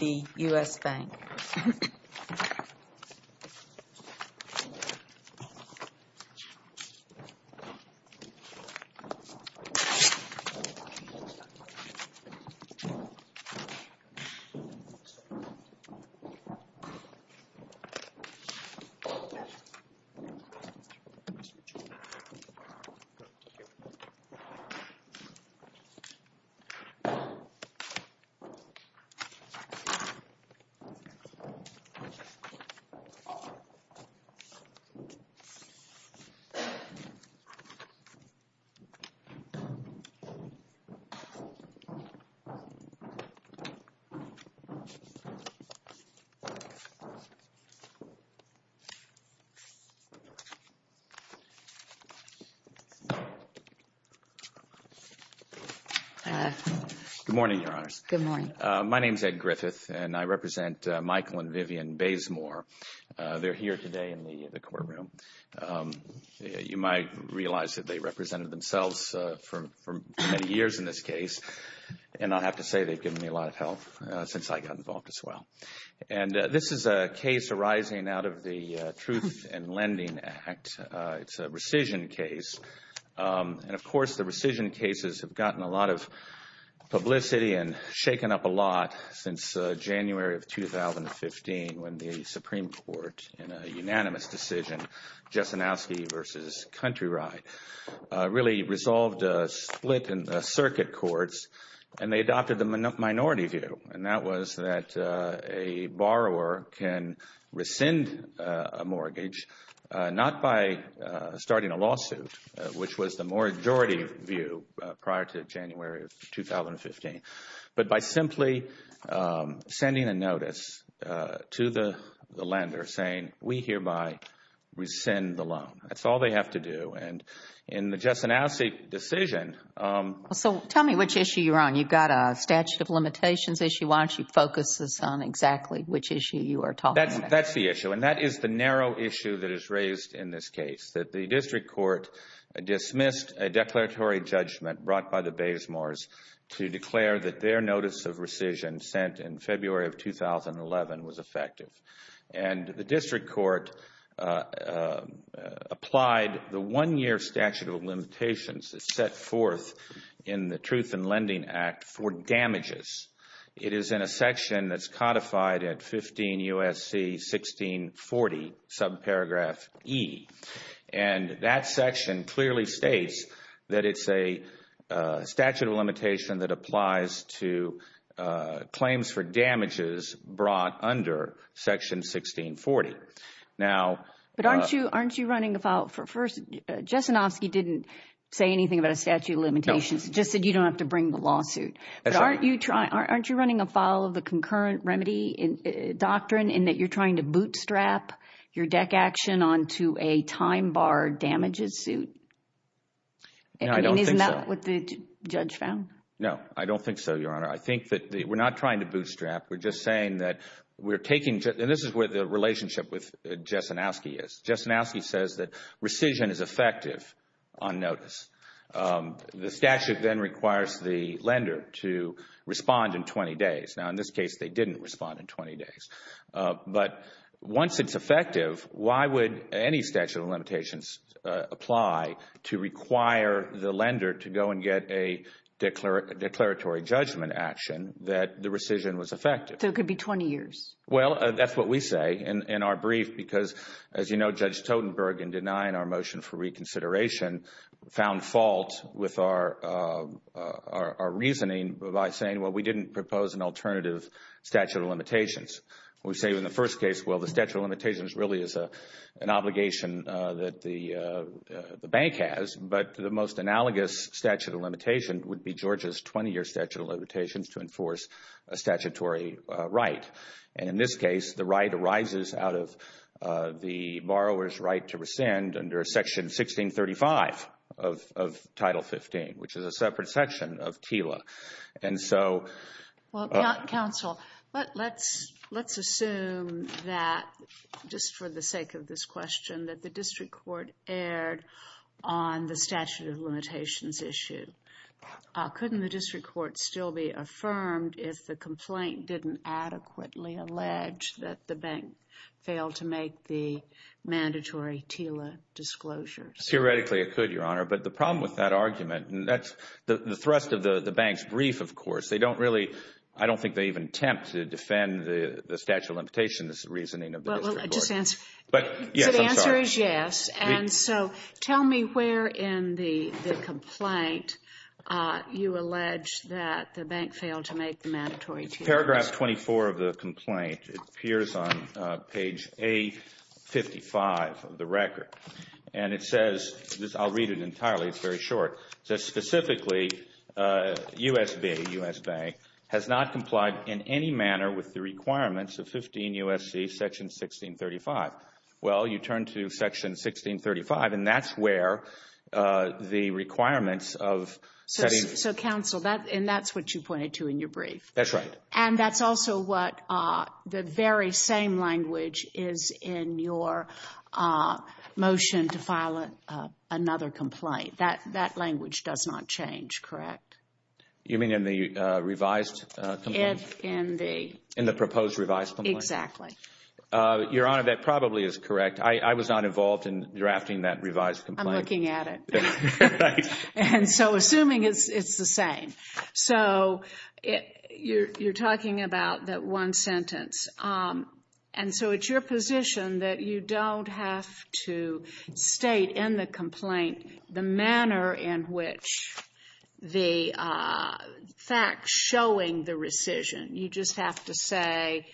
The U.S. Bank. Good morning, Your Honors. Good morning. My name is Ed Griffith, and I represent Michael and Vivian Bazemore. They're here today in the courtroom. You might realize that they represented themselves for many years in this case, and I'll have to say they've given me a lot of help since I got involved as well. And this is a case arising out of the Truth in Lending Act. It's a rescission case. And, of course, the rescission cases have gotten a lot of publicity and shaken up a lot since January of 2015 when the Supreme Court, in a unanimous decision, Jesenowski v. Country Ride, really resolved a split in the circuit courts, and they adopted the minority view, and that was that a borrower can rescind a mortgage not by starting a lawsuit, which was the majority view prior to January of 2015, but by simply sending a notice to the lender saying, we hereby rescind the loan. That's all they have to do. And in the Jesenowski decision— So tell me which issue you're on. You've got a statute of limitations issue. Why don't you focus us on exactly which issue you are talking about? That's the issue, and that is the narrow issue that is raised in this case, that the district court dismissed a declaratory judgment brought by the Baysmores to declare that their notice of rescission sent in February of 2011 was effective. And the district court applied the one-year statute of limitations that's set forth in the Truth in Lending Act for damages. It is in a section that's codified at 15 U.S.C. 1640, subparagraph E, and that section clearly states that it's a statute of limitation that applies to claims for damages brought under Section 1640. But aren't you running afoul? First, Jesenowski didn't say anything about a statute of limitations. He just said you don't have to bring the lawsuit. But aren't you running afoul of the concurrent remedy doctrine in that you're trying to bootstrap your deck action onto a time-barred damages suit? No, I don't think so. Isn't that what the judge found? No, I don't think so, Your Honor. I think that we're not trying to bootstrap. We're just saying that we're taking, and this is where the relationship with Jesenowski is. Jesenowski says that rescission is effective on notice. The statute then requires the lender to respond in 20 days. Now, in this case, they didn't respond in 20 days. But once it's effective, why would any statute of limitations apply to require the lender to go and get a declaratory judgment action that the rescission was effective? So it could be 20 years. Well, that's what we say in our brief because, as you know, Judge Totenberg, in denying our motion for reconsideration, found fault with our reasoning by saying, well, we didn't propose an alternative statute of limitations. We say in the first case, well, the statute of limitations really is an obligation that the bank has. But the most analogous statute of limitations would be Georgia's 20-year statute of limitations to enforce a statutory right. And in this case, the right arises out of the borrower's right to rescind under Section 1635 of Title 15, which is a separate section of TILA. Well, counsel, let's assume that, just for the sake of this question, that the district court erred on the statute of limitations issue. Couldn't the district court still be affirmed if the complaint didn't adequately allege that the bank failed to make the mandatory TILA disclosure? Theoretically, it could, Your Honor. But the problem with that argument, and that's the thrust of the bank's brief, of course. I don't think they even attempt to defend the statute of limitations reasoning of the district court. Well, just answer. So the answer is yes. And so tell me where in the complaint you allege that the bank failed to make the mandatory TILA. Paragraph 24 of the complaint appears on page A55 of the record. And it says, I'll read it entirely. It's very short. It says, specifically, U.S.B., U.S. Bank, has not complied in any manner with the requirements of 15 U.S.C. Section 1635. Well, you turn to Section 1635, and that's where the requirements of setting. So, counsel, and that's what you pointed to in your brief. That's right. And that's also what the very same language is in your motion to file another complaint. That language does not change, correct? You mean in the revised complaint? In the proposed revised complaint? Exactly. Your Honor, that probably is correct. I was not involved in drafting that revised complaint. I'm looking at it. Right. And so assuming it's the same. So you're talking about that one sentence. And so it's your position that you don't have to state in the complaint the manner in which the facts showing the rescission. You just have to say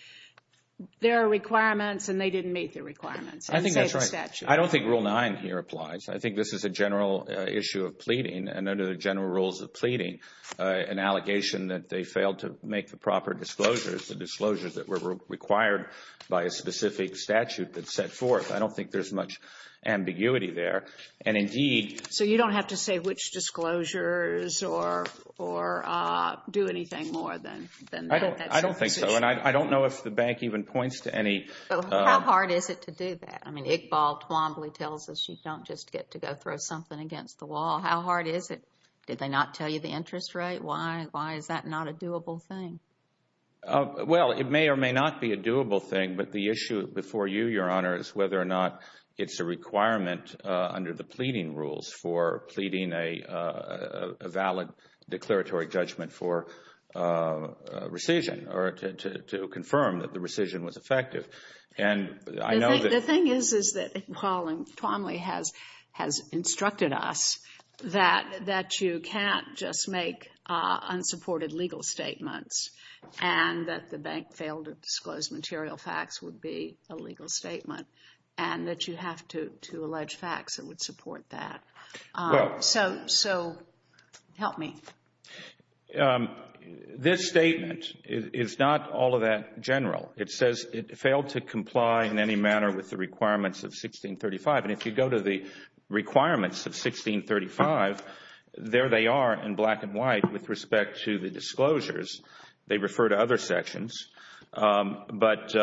there are requirements, and they didn't meet the requirements. I think that's right. I don't think Rule 9 here applies. I think this is a general issue of pleading, and under the general rules of pleading, an allegation that they failed to make the proper disclosures, the disclosures that were required by a specific statute that's set forth. I don't think there's much ambiguity there. And indeed. So you don't have to say which disclosures or do anything more than that? I don't think so. And I don't know if the bank even points to any. How hard is it to do that? I mean, Iqbal Twombly tells us you don't just get to go throw something against the wall. How hard is it? Did they not tell you the interest rate? Why is that not a doable thing? Well, it may or may not be a doable thing, but the issue before you, Your Honor, is whether or not it's a requirement under the pleading rules for pleading a valid declaratory judgment for rescission or to confirm that the rescission was effective. The thing is that Iqbal Twombly has instructed us that you can't just make unsupported legal statements and that the bank failed to disclose material facts would be a legal statement and that you have to allege facts that would support that. So help me. This statement is not all of that general. It says it failed to comply in any manner with the requirements of 1635. And if you go to the requirements of 1635, there they are in black and white with respect to the disclosures. They refer to other sections. But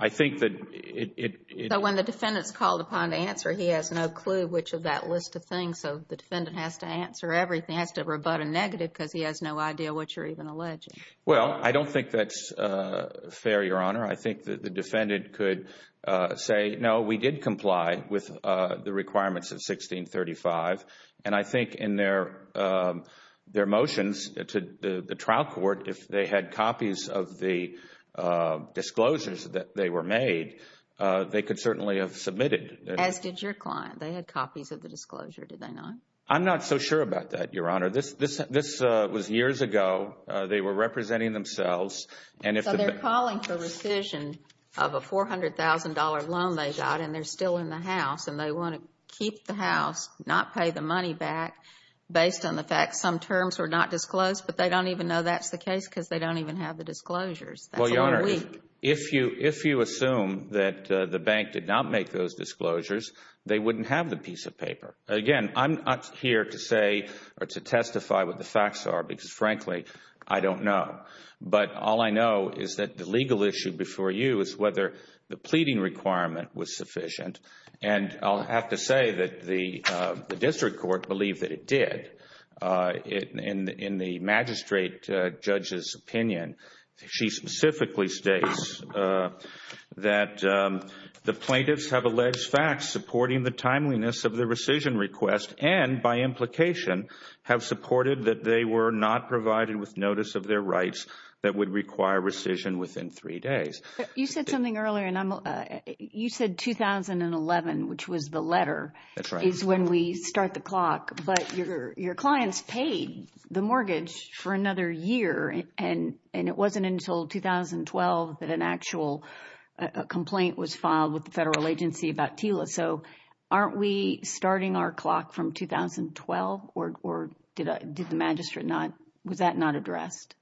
I think that it... So when the defendant is called upon to answer, he has no clue which of that list of things. So the defendant has to answer everything, has to rebut a negative because he has no idea what you're even alleging. Well, I don't think that's fair, Your Honor. I think that the defendant could say, no, we did comply with the requirements of 1635. And I think in their motions to the trial court, if they had copies of the disclosures that they were made, they could certainly have submitted. As did your client. They had copies of the disclosure, did they not? I'm not so sure about that, Your Honor. This was years ago. They were representing themselves. So they're calling for rescission of a $400,000 loan they got and they're still in the house and they want to keep the house, not pay the money back based on the fact some terms were not disclosed, but they don't even know that's the case because they don't even have the disclosures. That's a little weak. Well, Your Honor, if you assume that the bank did not make those disclosures, they wouldn't have the piece of paper. Again, I'm not here to say or to testify what the facts are because, frankly, I don't know. But all I know is that the legal issue before you is whether the pleading requirement was sufficient. And I'll have to say that the district court believed that it did. In the magistrate judge's opinion, she specifically states that the plaintiffs have alleged facts supporting the timeliness of the rescission request and, by implication, have supported that they were not provided with notice of their rights that would require rescission within three days. You said something earlier, and you said 2011, which was the letter, is when we start the clock. But your clients paid the mortgage for another year, and it wasn't until 2012 that an actual complaint was filed with the federal agency about TILA. So aren't we starting our clock from 2012, or was that not addressed?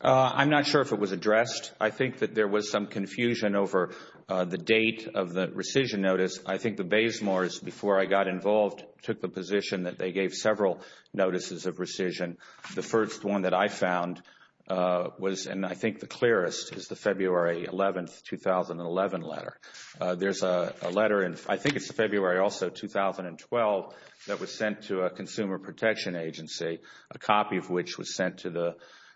I'm not sure if it was addressed. I think that there was some confusion over the date of the rescission notice. I think the Bazemores, before I got involved, took the position that they gave several notices of rescission. The first one that I found was, and I think the clearest, is the February 11, 2011 letter. There's a letter in, I think it's February also, 2012, that was sent to a consumer protection agency, a copy of which was sent to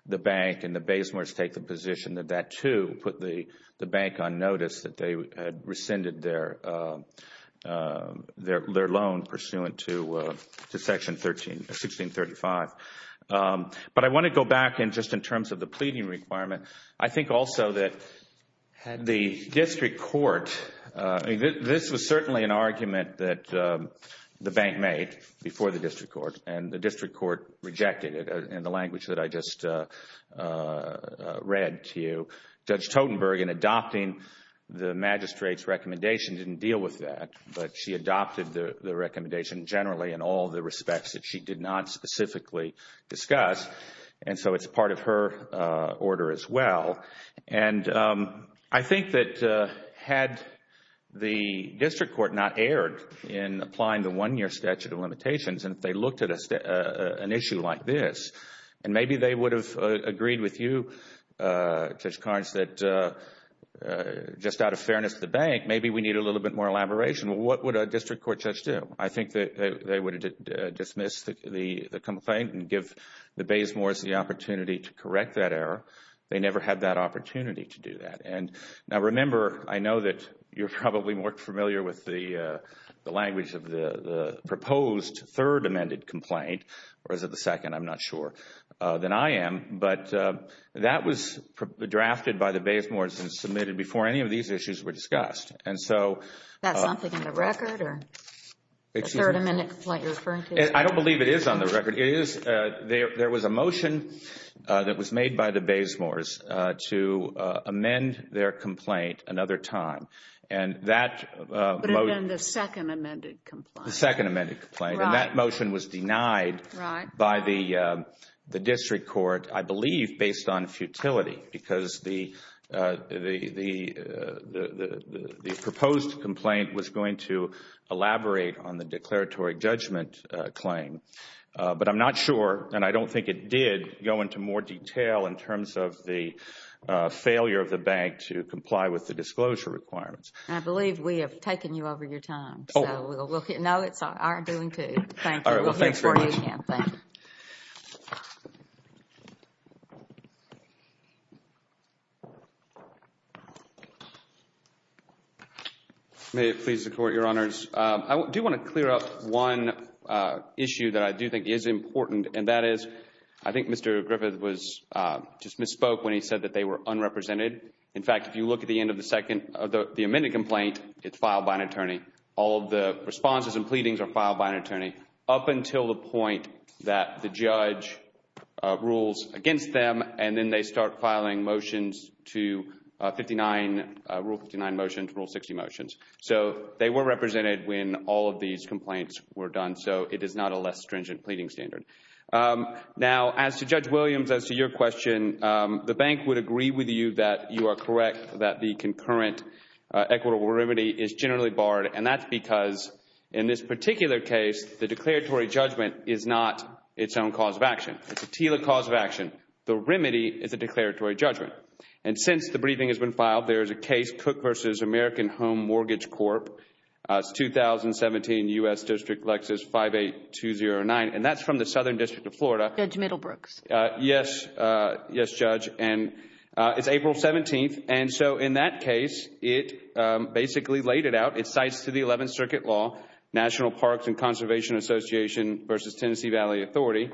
the bank, and the Bazemores take the position that that, too, put the bank on notice that they had rescinded their loan pursuant to Section 1635. But I want to go back just in terms of the pleading requirement. I think also that had the district court, this was certainly an argument that the bank made before the district court, and the district court rejected it in the language that I just read to you. Judge Totenberg, in adopting the magistrate's recommendation, didn't deal with that, but she adopted the recommendation generally in all the respects that she did not specifically discuss, and so it's part of her order as well. And I think that had the district court not erred in applying the one-year statute of limitations, and if they looked at an issue like this, and maybe they would have agreed with you, Judge Carnes, that just out of fairness to the bank, maybe we need a little bit more elaboration. What would a district court judge do? I think that they would have dismissed the complaint and give the Bazemores the opportunity to correct that error. They never had that opportunity to do that. And now remember, I know that you're probably more familiar with the language of the proposed third amended complaint, or is it the second? I'm not sure, than I am. But that was drafted by the Bazemores and submitted before any of these issues were discussed. Is that something in the record, or the third amended complaint you're referring to? I don't believe it is on the record. It is. There was a motion that was made by the Bazemores to amend their complaint another time. But it had been the second amended complaint. The second amended complaint. And that motion was denied by the district court, I believe based on futility, because the proposed complaint was going to elaborate on the declaratory judgment claim. But I'm not sure, and I don't think it did go into more detail in terms of the failure of the bank to comply with the disclosure requirements. I believe we have taken you over your time. Oh. No, it's our doing, too. Thank you. We'll hear from you again. Thank you. May it please the Court, Your Honors. I do want to clear up one issue that I do think is important, and that is, I think Mr. Griffith just misspoke when he said that they were unrepresented. In fact, if you look at the end of the second, the amended complaint, it's filed by an attorney. All of the responses and pleadings are filed by an attorney up until the point that the judge rules against them, and then they start filing motions to Rule 59 motions, Rule 60 motions. So they were represented when all of these complaints were done, so it is not a less stringent pleading standard. Now, as to Judge Williams, as to your question, the bank would agree with you that you are correct, that the concurrent equitable remedy is generally barred, and that's because in this particular case, the declaratory judgment is not its own cause of action. It's a TILA cause of action. The remedy is a declaratory judgment. And since the briefing has been filed, there is a case, Cook v. American Home Mortgage Corp., it's 2017, U.S. District, Lexus 58209, and that's from the Southern District of Florida. Judge Middlebrooks. Yes. Yes, Judge. And it's April 17th, and so in that case, it basically laid it out. It cites to the Eleventh Circuit Law, National Parks and Conservation Association v. Tennessee Valley Authority.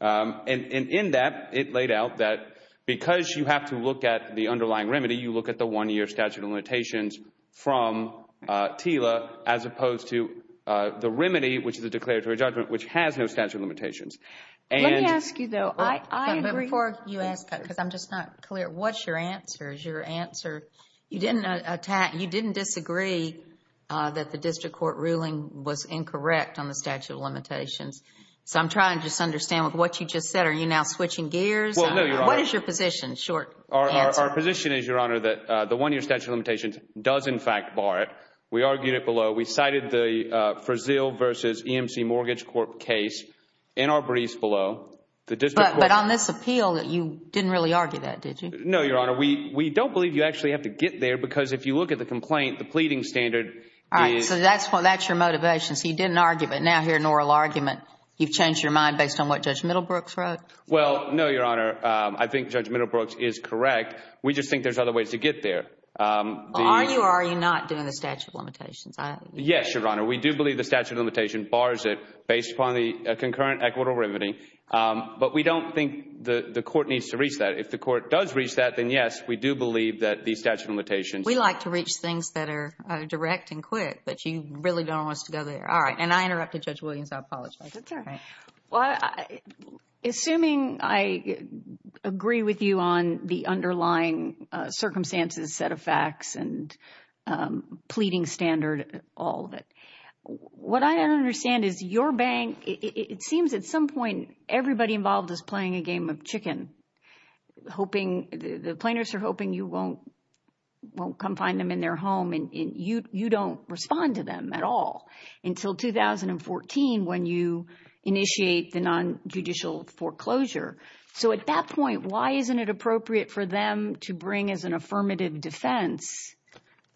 And in that, it laid out that because you have to look at the underlying remedy, you look at the one-year statute of limitations from TILA as opposed to the remedy, which is a declaratory judgment, which has no statute of limitations. Let me ask you, though. I agree. But before you ask that, because I'm just not clear, what's your answer? Is your answer, you didn't attack, you didn't disagree that the district court ruling was incorrect on the statute of limitations. So I'm trying to just understand what you just said. Are you now switching gears? What is your position? Short answer. Our position is, Your Honor, that the one-year statute of limitations does, in fact, bar it. We argued it below. We cited the Frazil v. EMC Mortgage Corp. case in our briefs below. But on this appeal, you didn't really argue that, did you? No, Your Honor. We don't believe you actually have to get there because if you look at the complaint, the pleading standard is— All right. So that's your motivation. So you did an argument. Now here, an oral argument. You've changed your mind based on what Judge Middlebrooks wrote? Well, no, Your Honor. I think Judge Middlebrooks is correct. We just think there's other ways to get there. Well, are you or are you not doing the statute of limitations? Yes, Your Honor. We do believe the statute of limitations bars it based upon the concurrent equitable remedy. But we don't think the court needs to reach that. If the court does reach that, then, yes, we do believe that the statute of limitations— We like to reach things that are direct and quick, but you really don't want us to go there. All right. And I interrupted Judge Williams. I apologize. That's all right. Well, assuming I agree with you on the underlying circumstances, set of facts, and pleading standard, all of it, what I don't understand is your bank—it seems at some point everybody involved is playing a game of chicken, hoping—the plaintiffs are hoping you won't come find them in their home, and you don't respond to them at all until 2014 when you initiate the nonjudicial foreclosure. So at that point, why isn't it appropriate for them to bring as an affirmative defense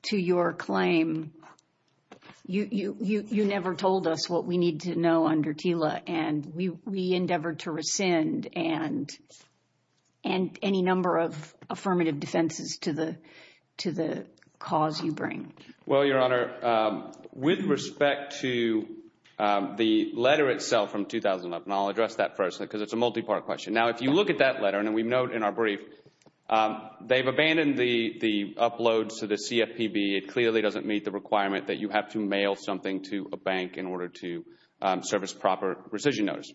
to your claim, You never told us what we need to know under TILA, and we endeavored to rescind any number of affirmative defenses to the cause you bring. Well, Your Honor, with respect to the letter itself from 2011—and I'll address that first because it's a multi-part question. Now, if you look at that letter, and we note in our brief, they've abandoned the uploads to the CFPB. It clearly doesn't meet the requirement that you have to mail something to a bank in order to service proper rescission notice.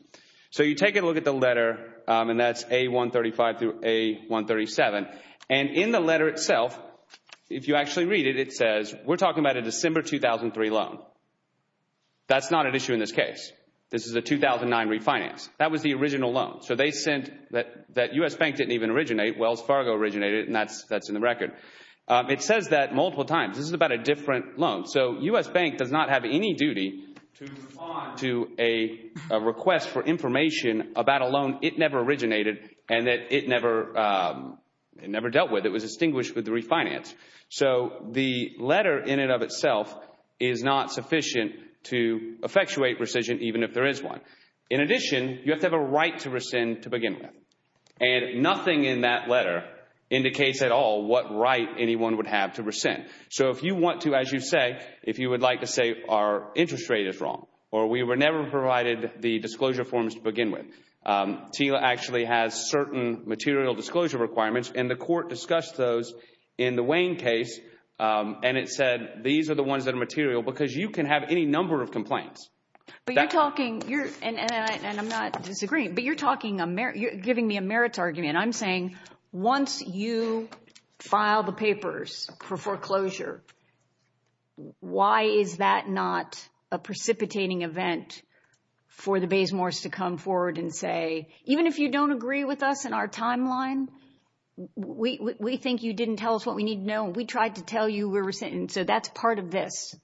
So you take a look at the letter, and that's A135 through A137. And in the letter itself, if you actually read it, it says we're talking about a December 2003 loan. That's not an issue in this case. This is a 2009 refinance. That was the original loan. So they sent—that U.S. Bank didn't even originate. Wells Fargo originated, and that's in the record. It says that multiple times. This is about a different loan. So U.S. Bank does not have any duty to respond to a request for information about a loan it never originated and that it never dealt with. It was distinguished with the refinance. So the letter in and of itself is not sufficient to effectuate rescission even if there is one. In addition, you have to have a right to rescind to begin with. And nothing in that letter indicates at all what right anyone would have to rescind. So if you want to, as you say, if you would like to say our interest rate is wrong or we were never provided the disclosure forms to begin with, TILA actually has certain material disclosure requirements, and the court discussed those in the Wayne case, and it said these are the ones that are material because you can have any number of complaints. But you're talking, and I'm not disagreeing, but you're giving me a merits argument. I'm saying once you file the papers for foreclosure, why is that not a precipitating event for the Baysmores to come forward and say, even if you don't agree with us in our timeline, we think you didn't tell us what we need to know. We tried to tell you we're rescinding, so that's part of this.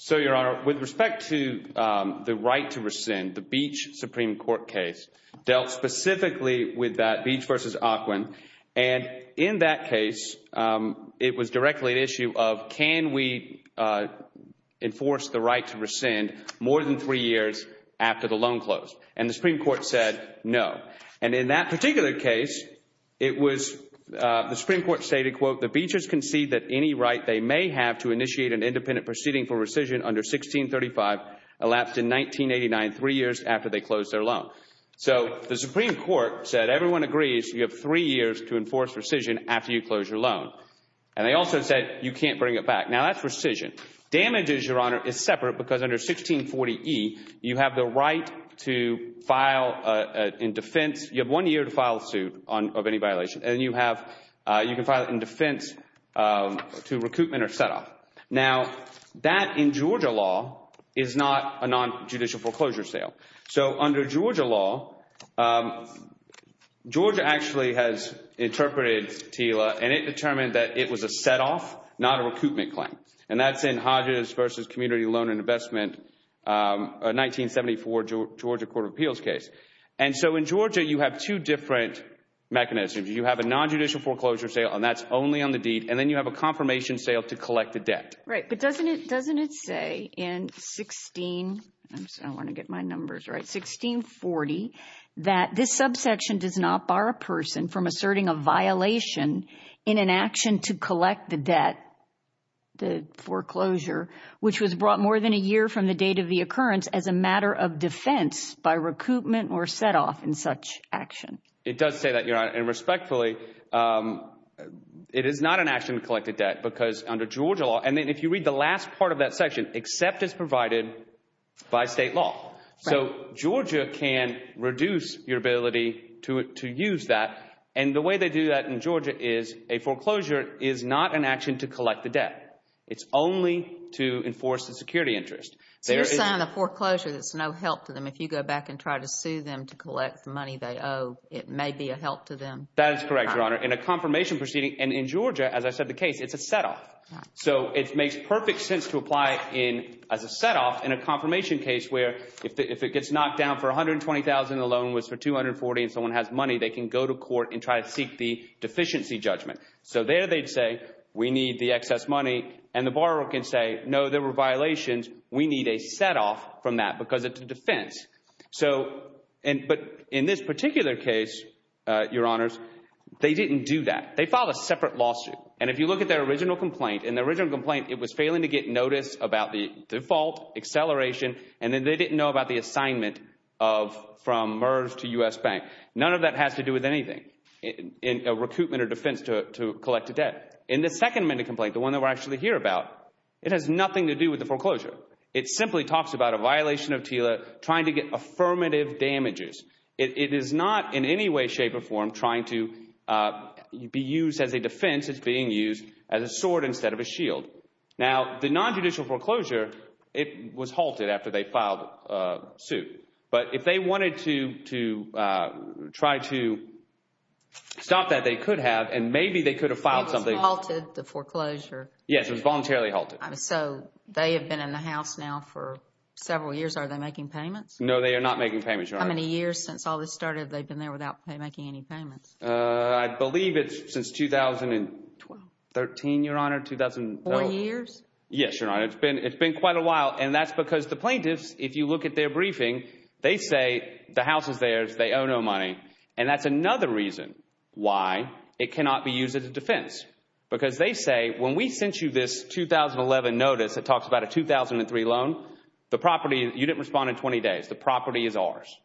So, Your Honor, with respect to the right to rescind, the Beach Supreme Court case dealt specifically with that, Beach v. Aquin. And in that case, it was directly an issue of can we enforce the right to rescind more than three years after the loan closed. And the Supreme Court said no. And in that particular case, it was the Supreme Court stated, quote, the Beaches concede that any right they may have to initiate an independent proceeding for rescission under 1635 elapsed in 1989, three years after they closed their loan. So the Supreme Court said everyone agrees you have three years to enforce rescission after you close your loan. And they also said you can't bring it back. Now, that's rescission. Damages, Your Honor, is separate because under 1640E, you have the right to file in defense. You have one year to file a suit of any violation, and you can file it in defense to recoupment or setoff. Now, that in Georgia law is not a nonjudicial foreclosure sale. So under Georgia law, Georgia actually has interpreted TILA, and it determined that it was a setoff, not a recoupment claim. And that's in Hodges v. Community Loan and Investment, a 1974 Georgia Court of Appeals case. And so in Georgia, you have two different mechanisms. You have a nonjudicial foreclosure sale, and that's only on the deed. And then you have a confirmation sale to collect the debt. Right, but doesn't it say in 16 – I want to get my numbers right – 1640, that this subsection does not bar a person from asserting a violation in an action to collect the debt, the foreclosure, which was brought more than a year from the date of the occurrence as a matter of defense by recoupment or setoff in such action? It does say that, Your Honor. And respectfully, it is not an action to collect a debt because under Georgia law – and then if you read the last part of that section, except as provided by state law. So Georgia can reduce your ability to use that. And the way they do that in Georgia is a foreclosure is not an action to collect the debt. It's only to enforce the security interest. So you're saying the foreclosure, there's no help to them. If you go back and try to sue them to collect the money they owe, it may be a help to them. That is correct, Your Honor. In a confirmation proceeding – and in Georgia, as I said, the case, it's a setoff. So it makes perfect sense to apply in – as a setoff in a confirmation case where if it gets knocked down for $120,000, the loan was for $240,000 and someone has money, they can go to court and try to seek the deficiency judgment. So there they'd say we need the excess money, and the borrower can say, no, there were violations. We need a setoff from that because it's a defense. So – but in this particular case, Your Honors, they didn't do that. They filed a separate lawsuit. And if you look at their original complaint, in the original complaint, it was failing to get notice about the default, acceleration, and then they didn't know about the assignment of – from MERS to U.S. Bank. None of that has to do with anything in a recoupment or defense to collect a debt. In the second amendment complaint, the one that we're actually here about, it has nothing to do with the foreclosure. It simply talks about a violation of TILA trying to get affirmative damages. It is not in any way, shape, or form trying to be used as a defense. It's being used as a sword instead of a shield. Now, the nonjudicial foreclosure, it was halted after they filed a suit. But if they wanted to try to stop that, they could have, and maybe they could have filed something. It was halted, the foreclosure? Yes, it was voluntarily halted. So they have been in the House now for several years. No, they are not making payments, Your Honor. How many years since all this started they've been there without making any payments? I believe it's since 2013, Your Honor, 2012. Four years? Yes, Your Honor. It's been quite a while, and that's because the plaintiffs, if you look at their briefing, they say the house is theirs, they owe no money, and that's another reason why it cannot be used as a defense. Because they say, when we sent you this 2011 notice that talks about a 2003 loan, the property, you didn't respond in 20 days, the property is ours,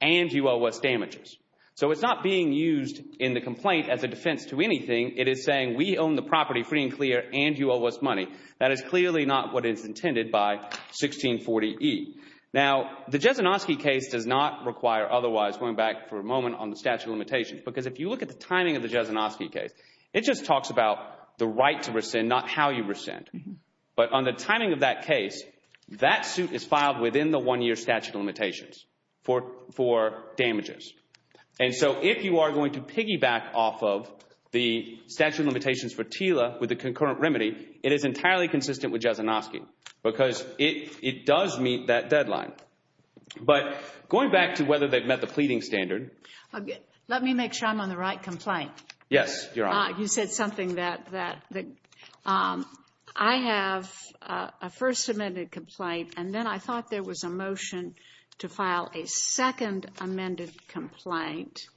and you owe us damages. So it's not being used in the complaint as a defense to anything. It is saying we own the property free and clear, and you owe us money. That is clearly not what is intended by 1640E. Now, the Jezinoski case does not require otherwise, going back for a moment on the statute of limitations, because if you look at the timing of the Jezinoski case, it just talks about the right to rescind, not how you rescind. But on the timing of that case, that suit is filed within the one-year statute of limitations for damages. And so if you are going to piggyback off of the statute of limitations for TILA with a concurrent remedy, it is entirely consistent with Jezinoski because it does meet that deadline. But going back to whether they've met the pleading standard. Let me make sure I'm on the right complaint. Yes, Your Honor. You said something that I have a first amended complaint, and then I thought there was a motion to file a second amended complaint.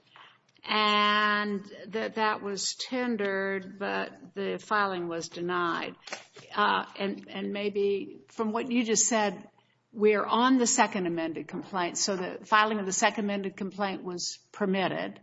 And that was tendered, but the filing was denied. And maybe from what you just said, we are on the second amended complaint, so the filing of the second amended complaint was permitted.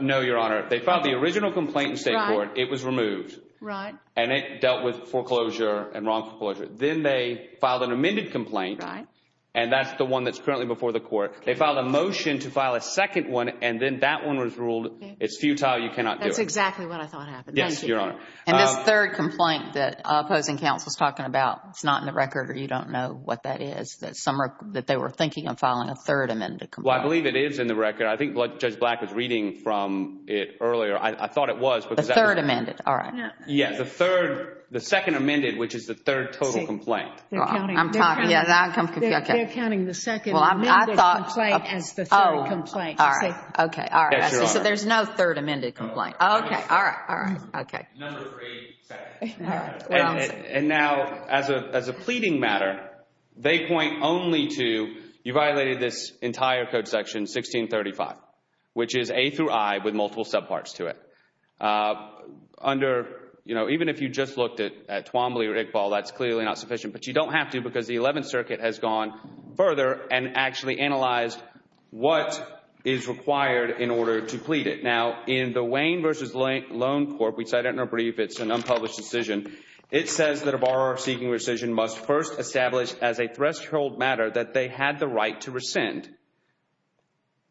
No, Your Honor. They filed the original complaint in state court. It was removed. Right. And it dealt with foreclosure and wrong foreclosure. Then they filed an amended complaint. Right. And that's the one that's currently before the court. They filed a motion to file a second one, and then that one was ruled, it's futile, you cannot do it. That's exactly what I thought happened. Yes, Your Honor. And this third complaint that opposing counsel is talking about, it's not in the record, or you don't know what that is, that they were thinking of filing a third amended complaint. Well, I believe it is in the record. I think Judge Black was reading from it earlier. I thought it was. The third amended, all right. Yes, the third, the second amended, which is the third total complaint. I'm talking. They're counting the second amended complaint as the third complaint. Okay, all right. So there's no third amended complaint. Okay, all right, all right. Okay. Number three. And now as a pleading matter, they point only to you violated this entire code section 1635, which is A through I with multiple subparts to it. Under, you know, even if you just looked at Twombly or Iqbal, that's clearly not sufficient. But you don't have to because the Eleventh Circuit has gone further and actually analyzed what is required in order to plead it. Now, in the Wayne v. Loan Corp., which I don't know if it's an unpublished decision, it says that a borrower seeking rescission must first establish as a threshold matter that they had the right to rescind.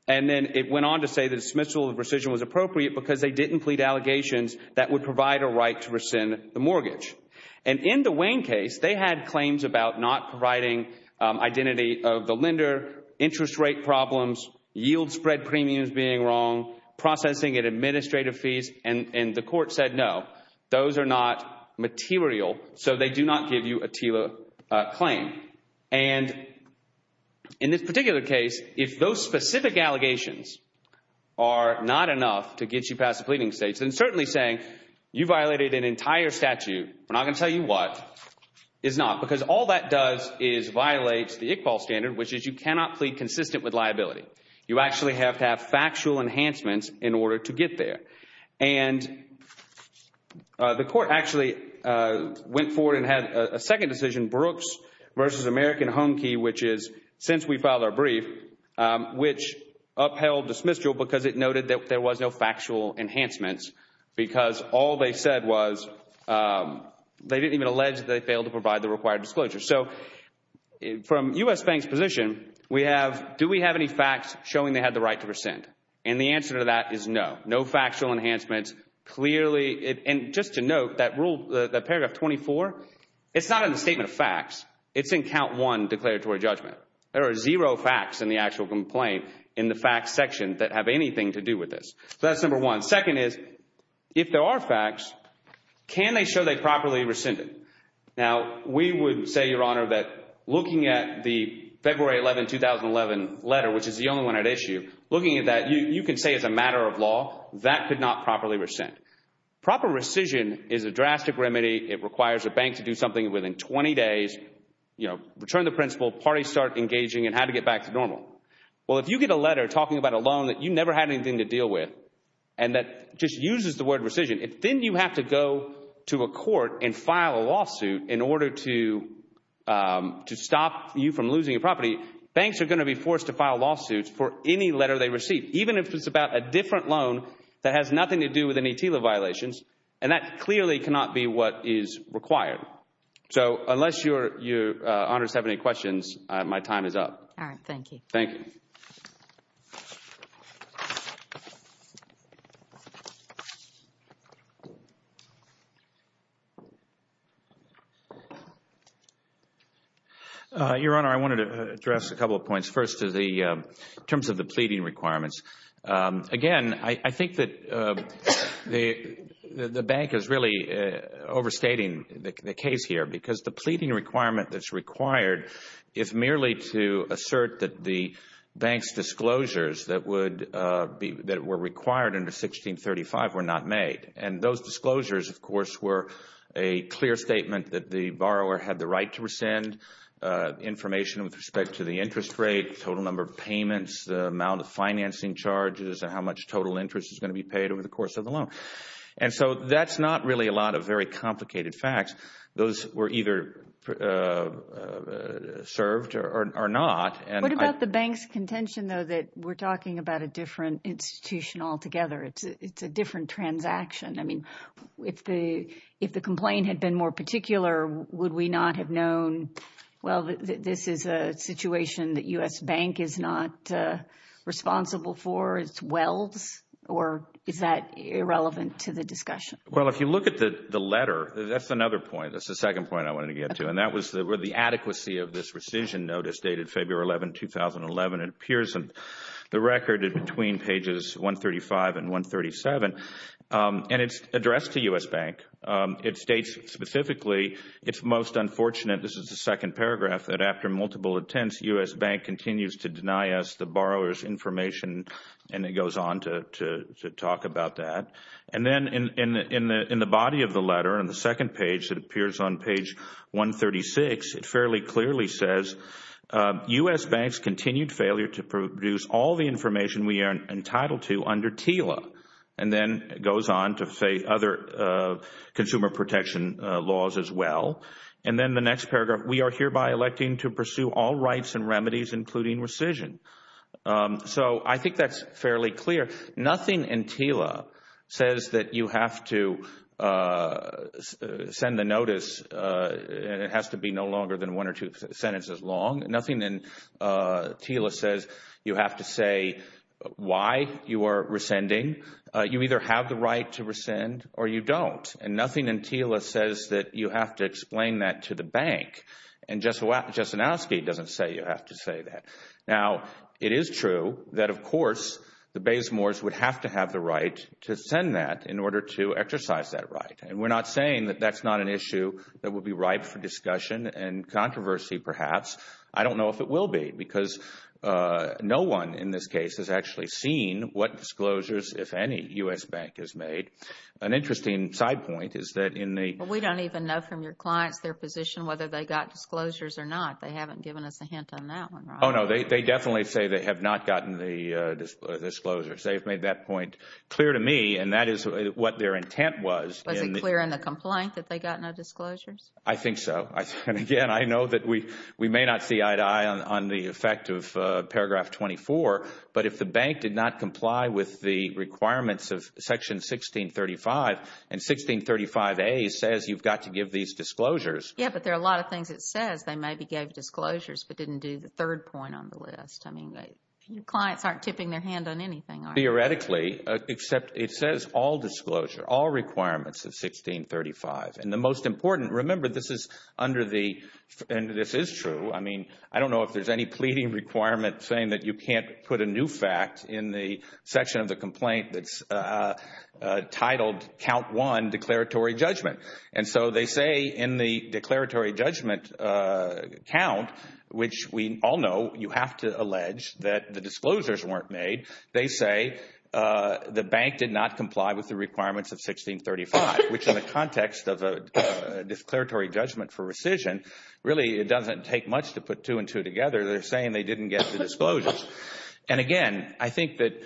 And then it went on to say the dismissal of rescission was appropriate because they didn't plead allegations that would provide a right to rescind the mortgage. And in the Wayne case, they had claims about not providing identity of the lender, interest rate problems, yield spread premiums being wrong, processing and administrative fees, and the court said no. Those are not material, so they do not give you a TILA claim. And in this particular case, if those specific allegations are not enough to get you past the pleading stage, then certainly saying you violated an entire statute, we're not going to tell you what, is not. Because all that does is violate the Iqbal standard, which is you cannot plead consistent with liability. You actually have to have factual enhancements in order to get there. And the court actually went forward and had a second decision, Brooks v. American Home Key, which is since we filed our brief, which upheld dismissal because it noted that there was no factual enhancements because all they said was they didn't even allege that they failed to provide the required disclosure. So from U.S. Bank's position, we have, do we have any facts showing they had the right to rescind? And the answer to that is no, no factual enhancements. Clearly, and just to note, that paragraph 24, it's not in the statement of facts. It's in count one declaratory judgment. There are zero facts in the actual complaint in the facts section that have anything to do with this. So that's number one. Second is, if there are facts, can they show they properly rescinded? Now, we would say, Your Honor, that looking at the February 11, 2011 letter, which is the only one at issue, looking at that, you can say as a matter of law, that could not properly rescind. Proper rescission is a drastic remedy. It requires a bank to do something within 20 days, you know, return the principal, parties start engaging in how to get back to normal. Well, if you get a letter talking about a loan that you never had anything to deal with and that just uses the word rescission, then you have to go to a court and file a lawsuit in order to stop you from losing your property. Banks are going to be forced to file lawsuits for any letter they receive, even if it's about a different loan that has nothing to do with any TILA violations, and that clearly cannot be what is required. So unless Your Honors have any questions, my time is up. All right. Thank you. Thank you. Your Honor, I wanted to address a couple of points. First, in terms of the pleading requirements, again, I think that the bank is really overstating the case here because the pleading requirement that's required is merely to assert that the bank's disclosures that were required under 1635 were not made. And those disclosures, of course, were a clear statement that the borrower had the right to rescind information with respect to the interest rate, total number of payments, the amount of financing charges, and how much total interest is going to be paid over the course of the loan. And so that's not really a lot of very complicated facts. Those were either served or not. What about the bank's contention, though, that we're talking about a different institution altogether? It's a different transaction. I mean, if the complaint had been more particular, would we not have known, well, this is a situation that U.S. Bank is not responsible for, it's wells, or is that irrelevant to the discussion? Well, if you look at the letter, that's another point. That's the second point I wanted to get to, and that was the adequacy of this rescission notice dated February 11, 2011. It appears in the record between pages 135 and 137, and it's addressed to U.S. Bank. It states specifically, it's most unfortunate, this is the second paragraph, that after multiple attempts, U.S. Bank continues to deny us the borrower's information, and it goes on to talk about that. And then in the body of the letter, in the second page that appears on page 136, it fairly clearly says U.S. Bank's continued failure to produce all the information we are entitled to under TILA, and then it goes on to say other consumer protection laws as well. And then the next paragraph, we are hereby electing to pursue all rights and remedies, including rescission. So I think that's fairly clear. Nothing in TILA says that you have to send the notice, and it has to be no longer than one or two sentences long. Nothing in TILA says you have to say why you are rescinding. You either have the right to rescind or you don't. And nothing in TILA says that you have to explain that to the bank. And Justanowski doesn't say you have to say that. Now, it is true that, of course, the Baysmores would have to have the right to send that in order to exercise that right. And we're not saying that that's not an issue that would be ripe for discussion and controversy, perhaps. I don't know if it will be, because no one in this case has actually seen what disclosures, if any, U.S. Bank has made. An interesting side point is that in the – Well, we don't even know from your clients their position whether they got disclosures or not. They haven't given us a hint on that one, Ron. Oh, no, they definitely say they have not gotten the disclosures. They've made that point clear to me, and that is what their intent was. Was it clear in the complaint that they got no disclosures? I think so. And, again, I know that we may not see eye to eye on the effect of paragraph 24, but if the bank did not comply with the requirements of section 1635, and 1635A says you've got to give these disclosures – Yeah, but there are a lot of things it says. They maybe gave disclosures but didn't do the third point on the list. I mean, your clients aren't tipping their hand on anything, are they? Theoretically, except it says all disclosure, all requirements of 1635. And the most important – remember, this is under the – and this is true. I mean, I don't know if there's any pleading requirement saying that you can't put a new fact in the section of the complaint that's titled count one declaratory judgment. And so they say in the declaratory judgment count, which we all know you have to allege that the disclosures weren't made, they say the bank did not comply with the requirements of 1635, which in the context of a declaratory judgment for rescission, really it doesn't take much to put two and two together. They're saying they didn't get the disclosures. And again, I think that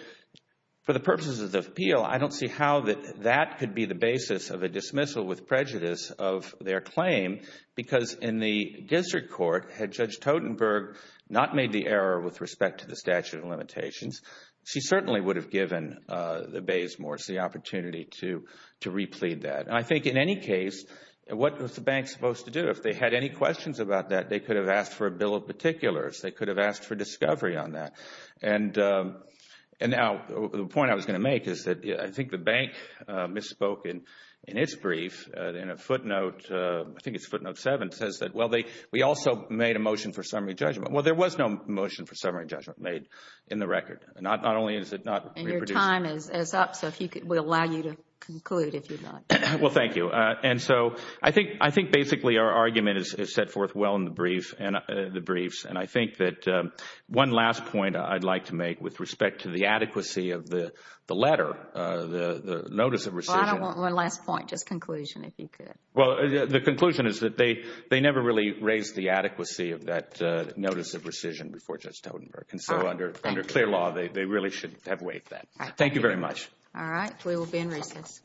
for the purposes of the appeal, I don't see how that could be the basis of a dismissal with prejudice of their claim because in the district court, had Judge Totenberg not made the error with respect to the statute of limitations, she certainly would have given the Baysmores the opportunity to replete that. And I think in any case, what was the bank supposed to do? If they had any questions about that, they could have asked for a bill of particulars. They could have asked for discovery on that. And now the point I was going to make is that I think the bank misspoke in its brief in a footnote, I think it's footnote seven, says that, well, we also made a motion for summary judgment. Well, there was no motion for summary judgment made in the record. Not only is it not reproduced. And your time is up, so we'll allow you to conclude if you'd like. Well, thank you. And so I think basically our argument is set forth well in the briefs. And I think that one last point I'd like to make with respect to the adequacy of the letter, the notice of rescission. Well, I don't want one last point, just conclusion if you could. Well, the conclusion is that they never really raised the adequacy of that notice of rescission before Judge Totenberg. And so under clear law, they really should have waived that. Thank you very much. All right. We will be in recess. Thank you.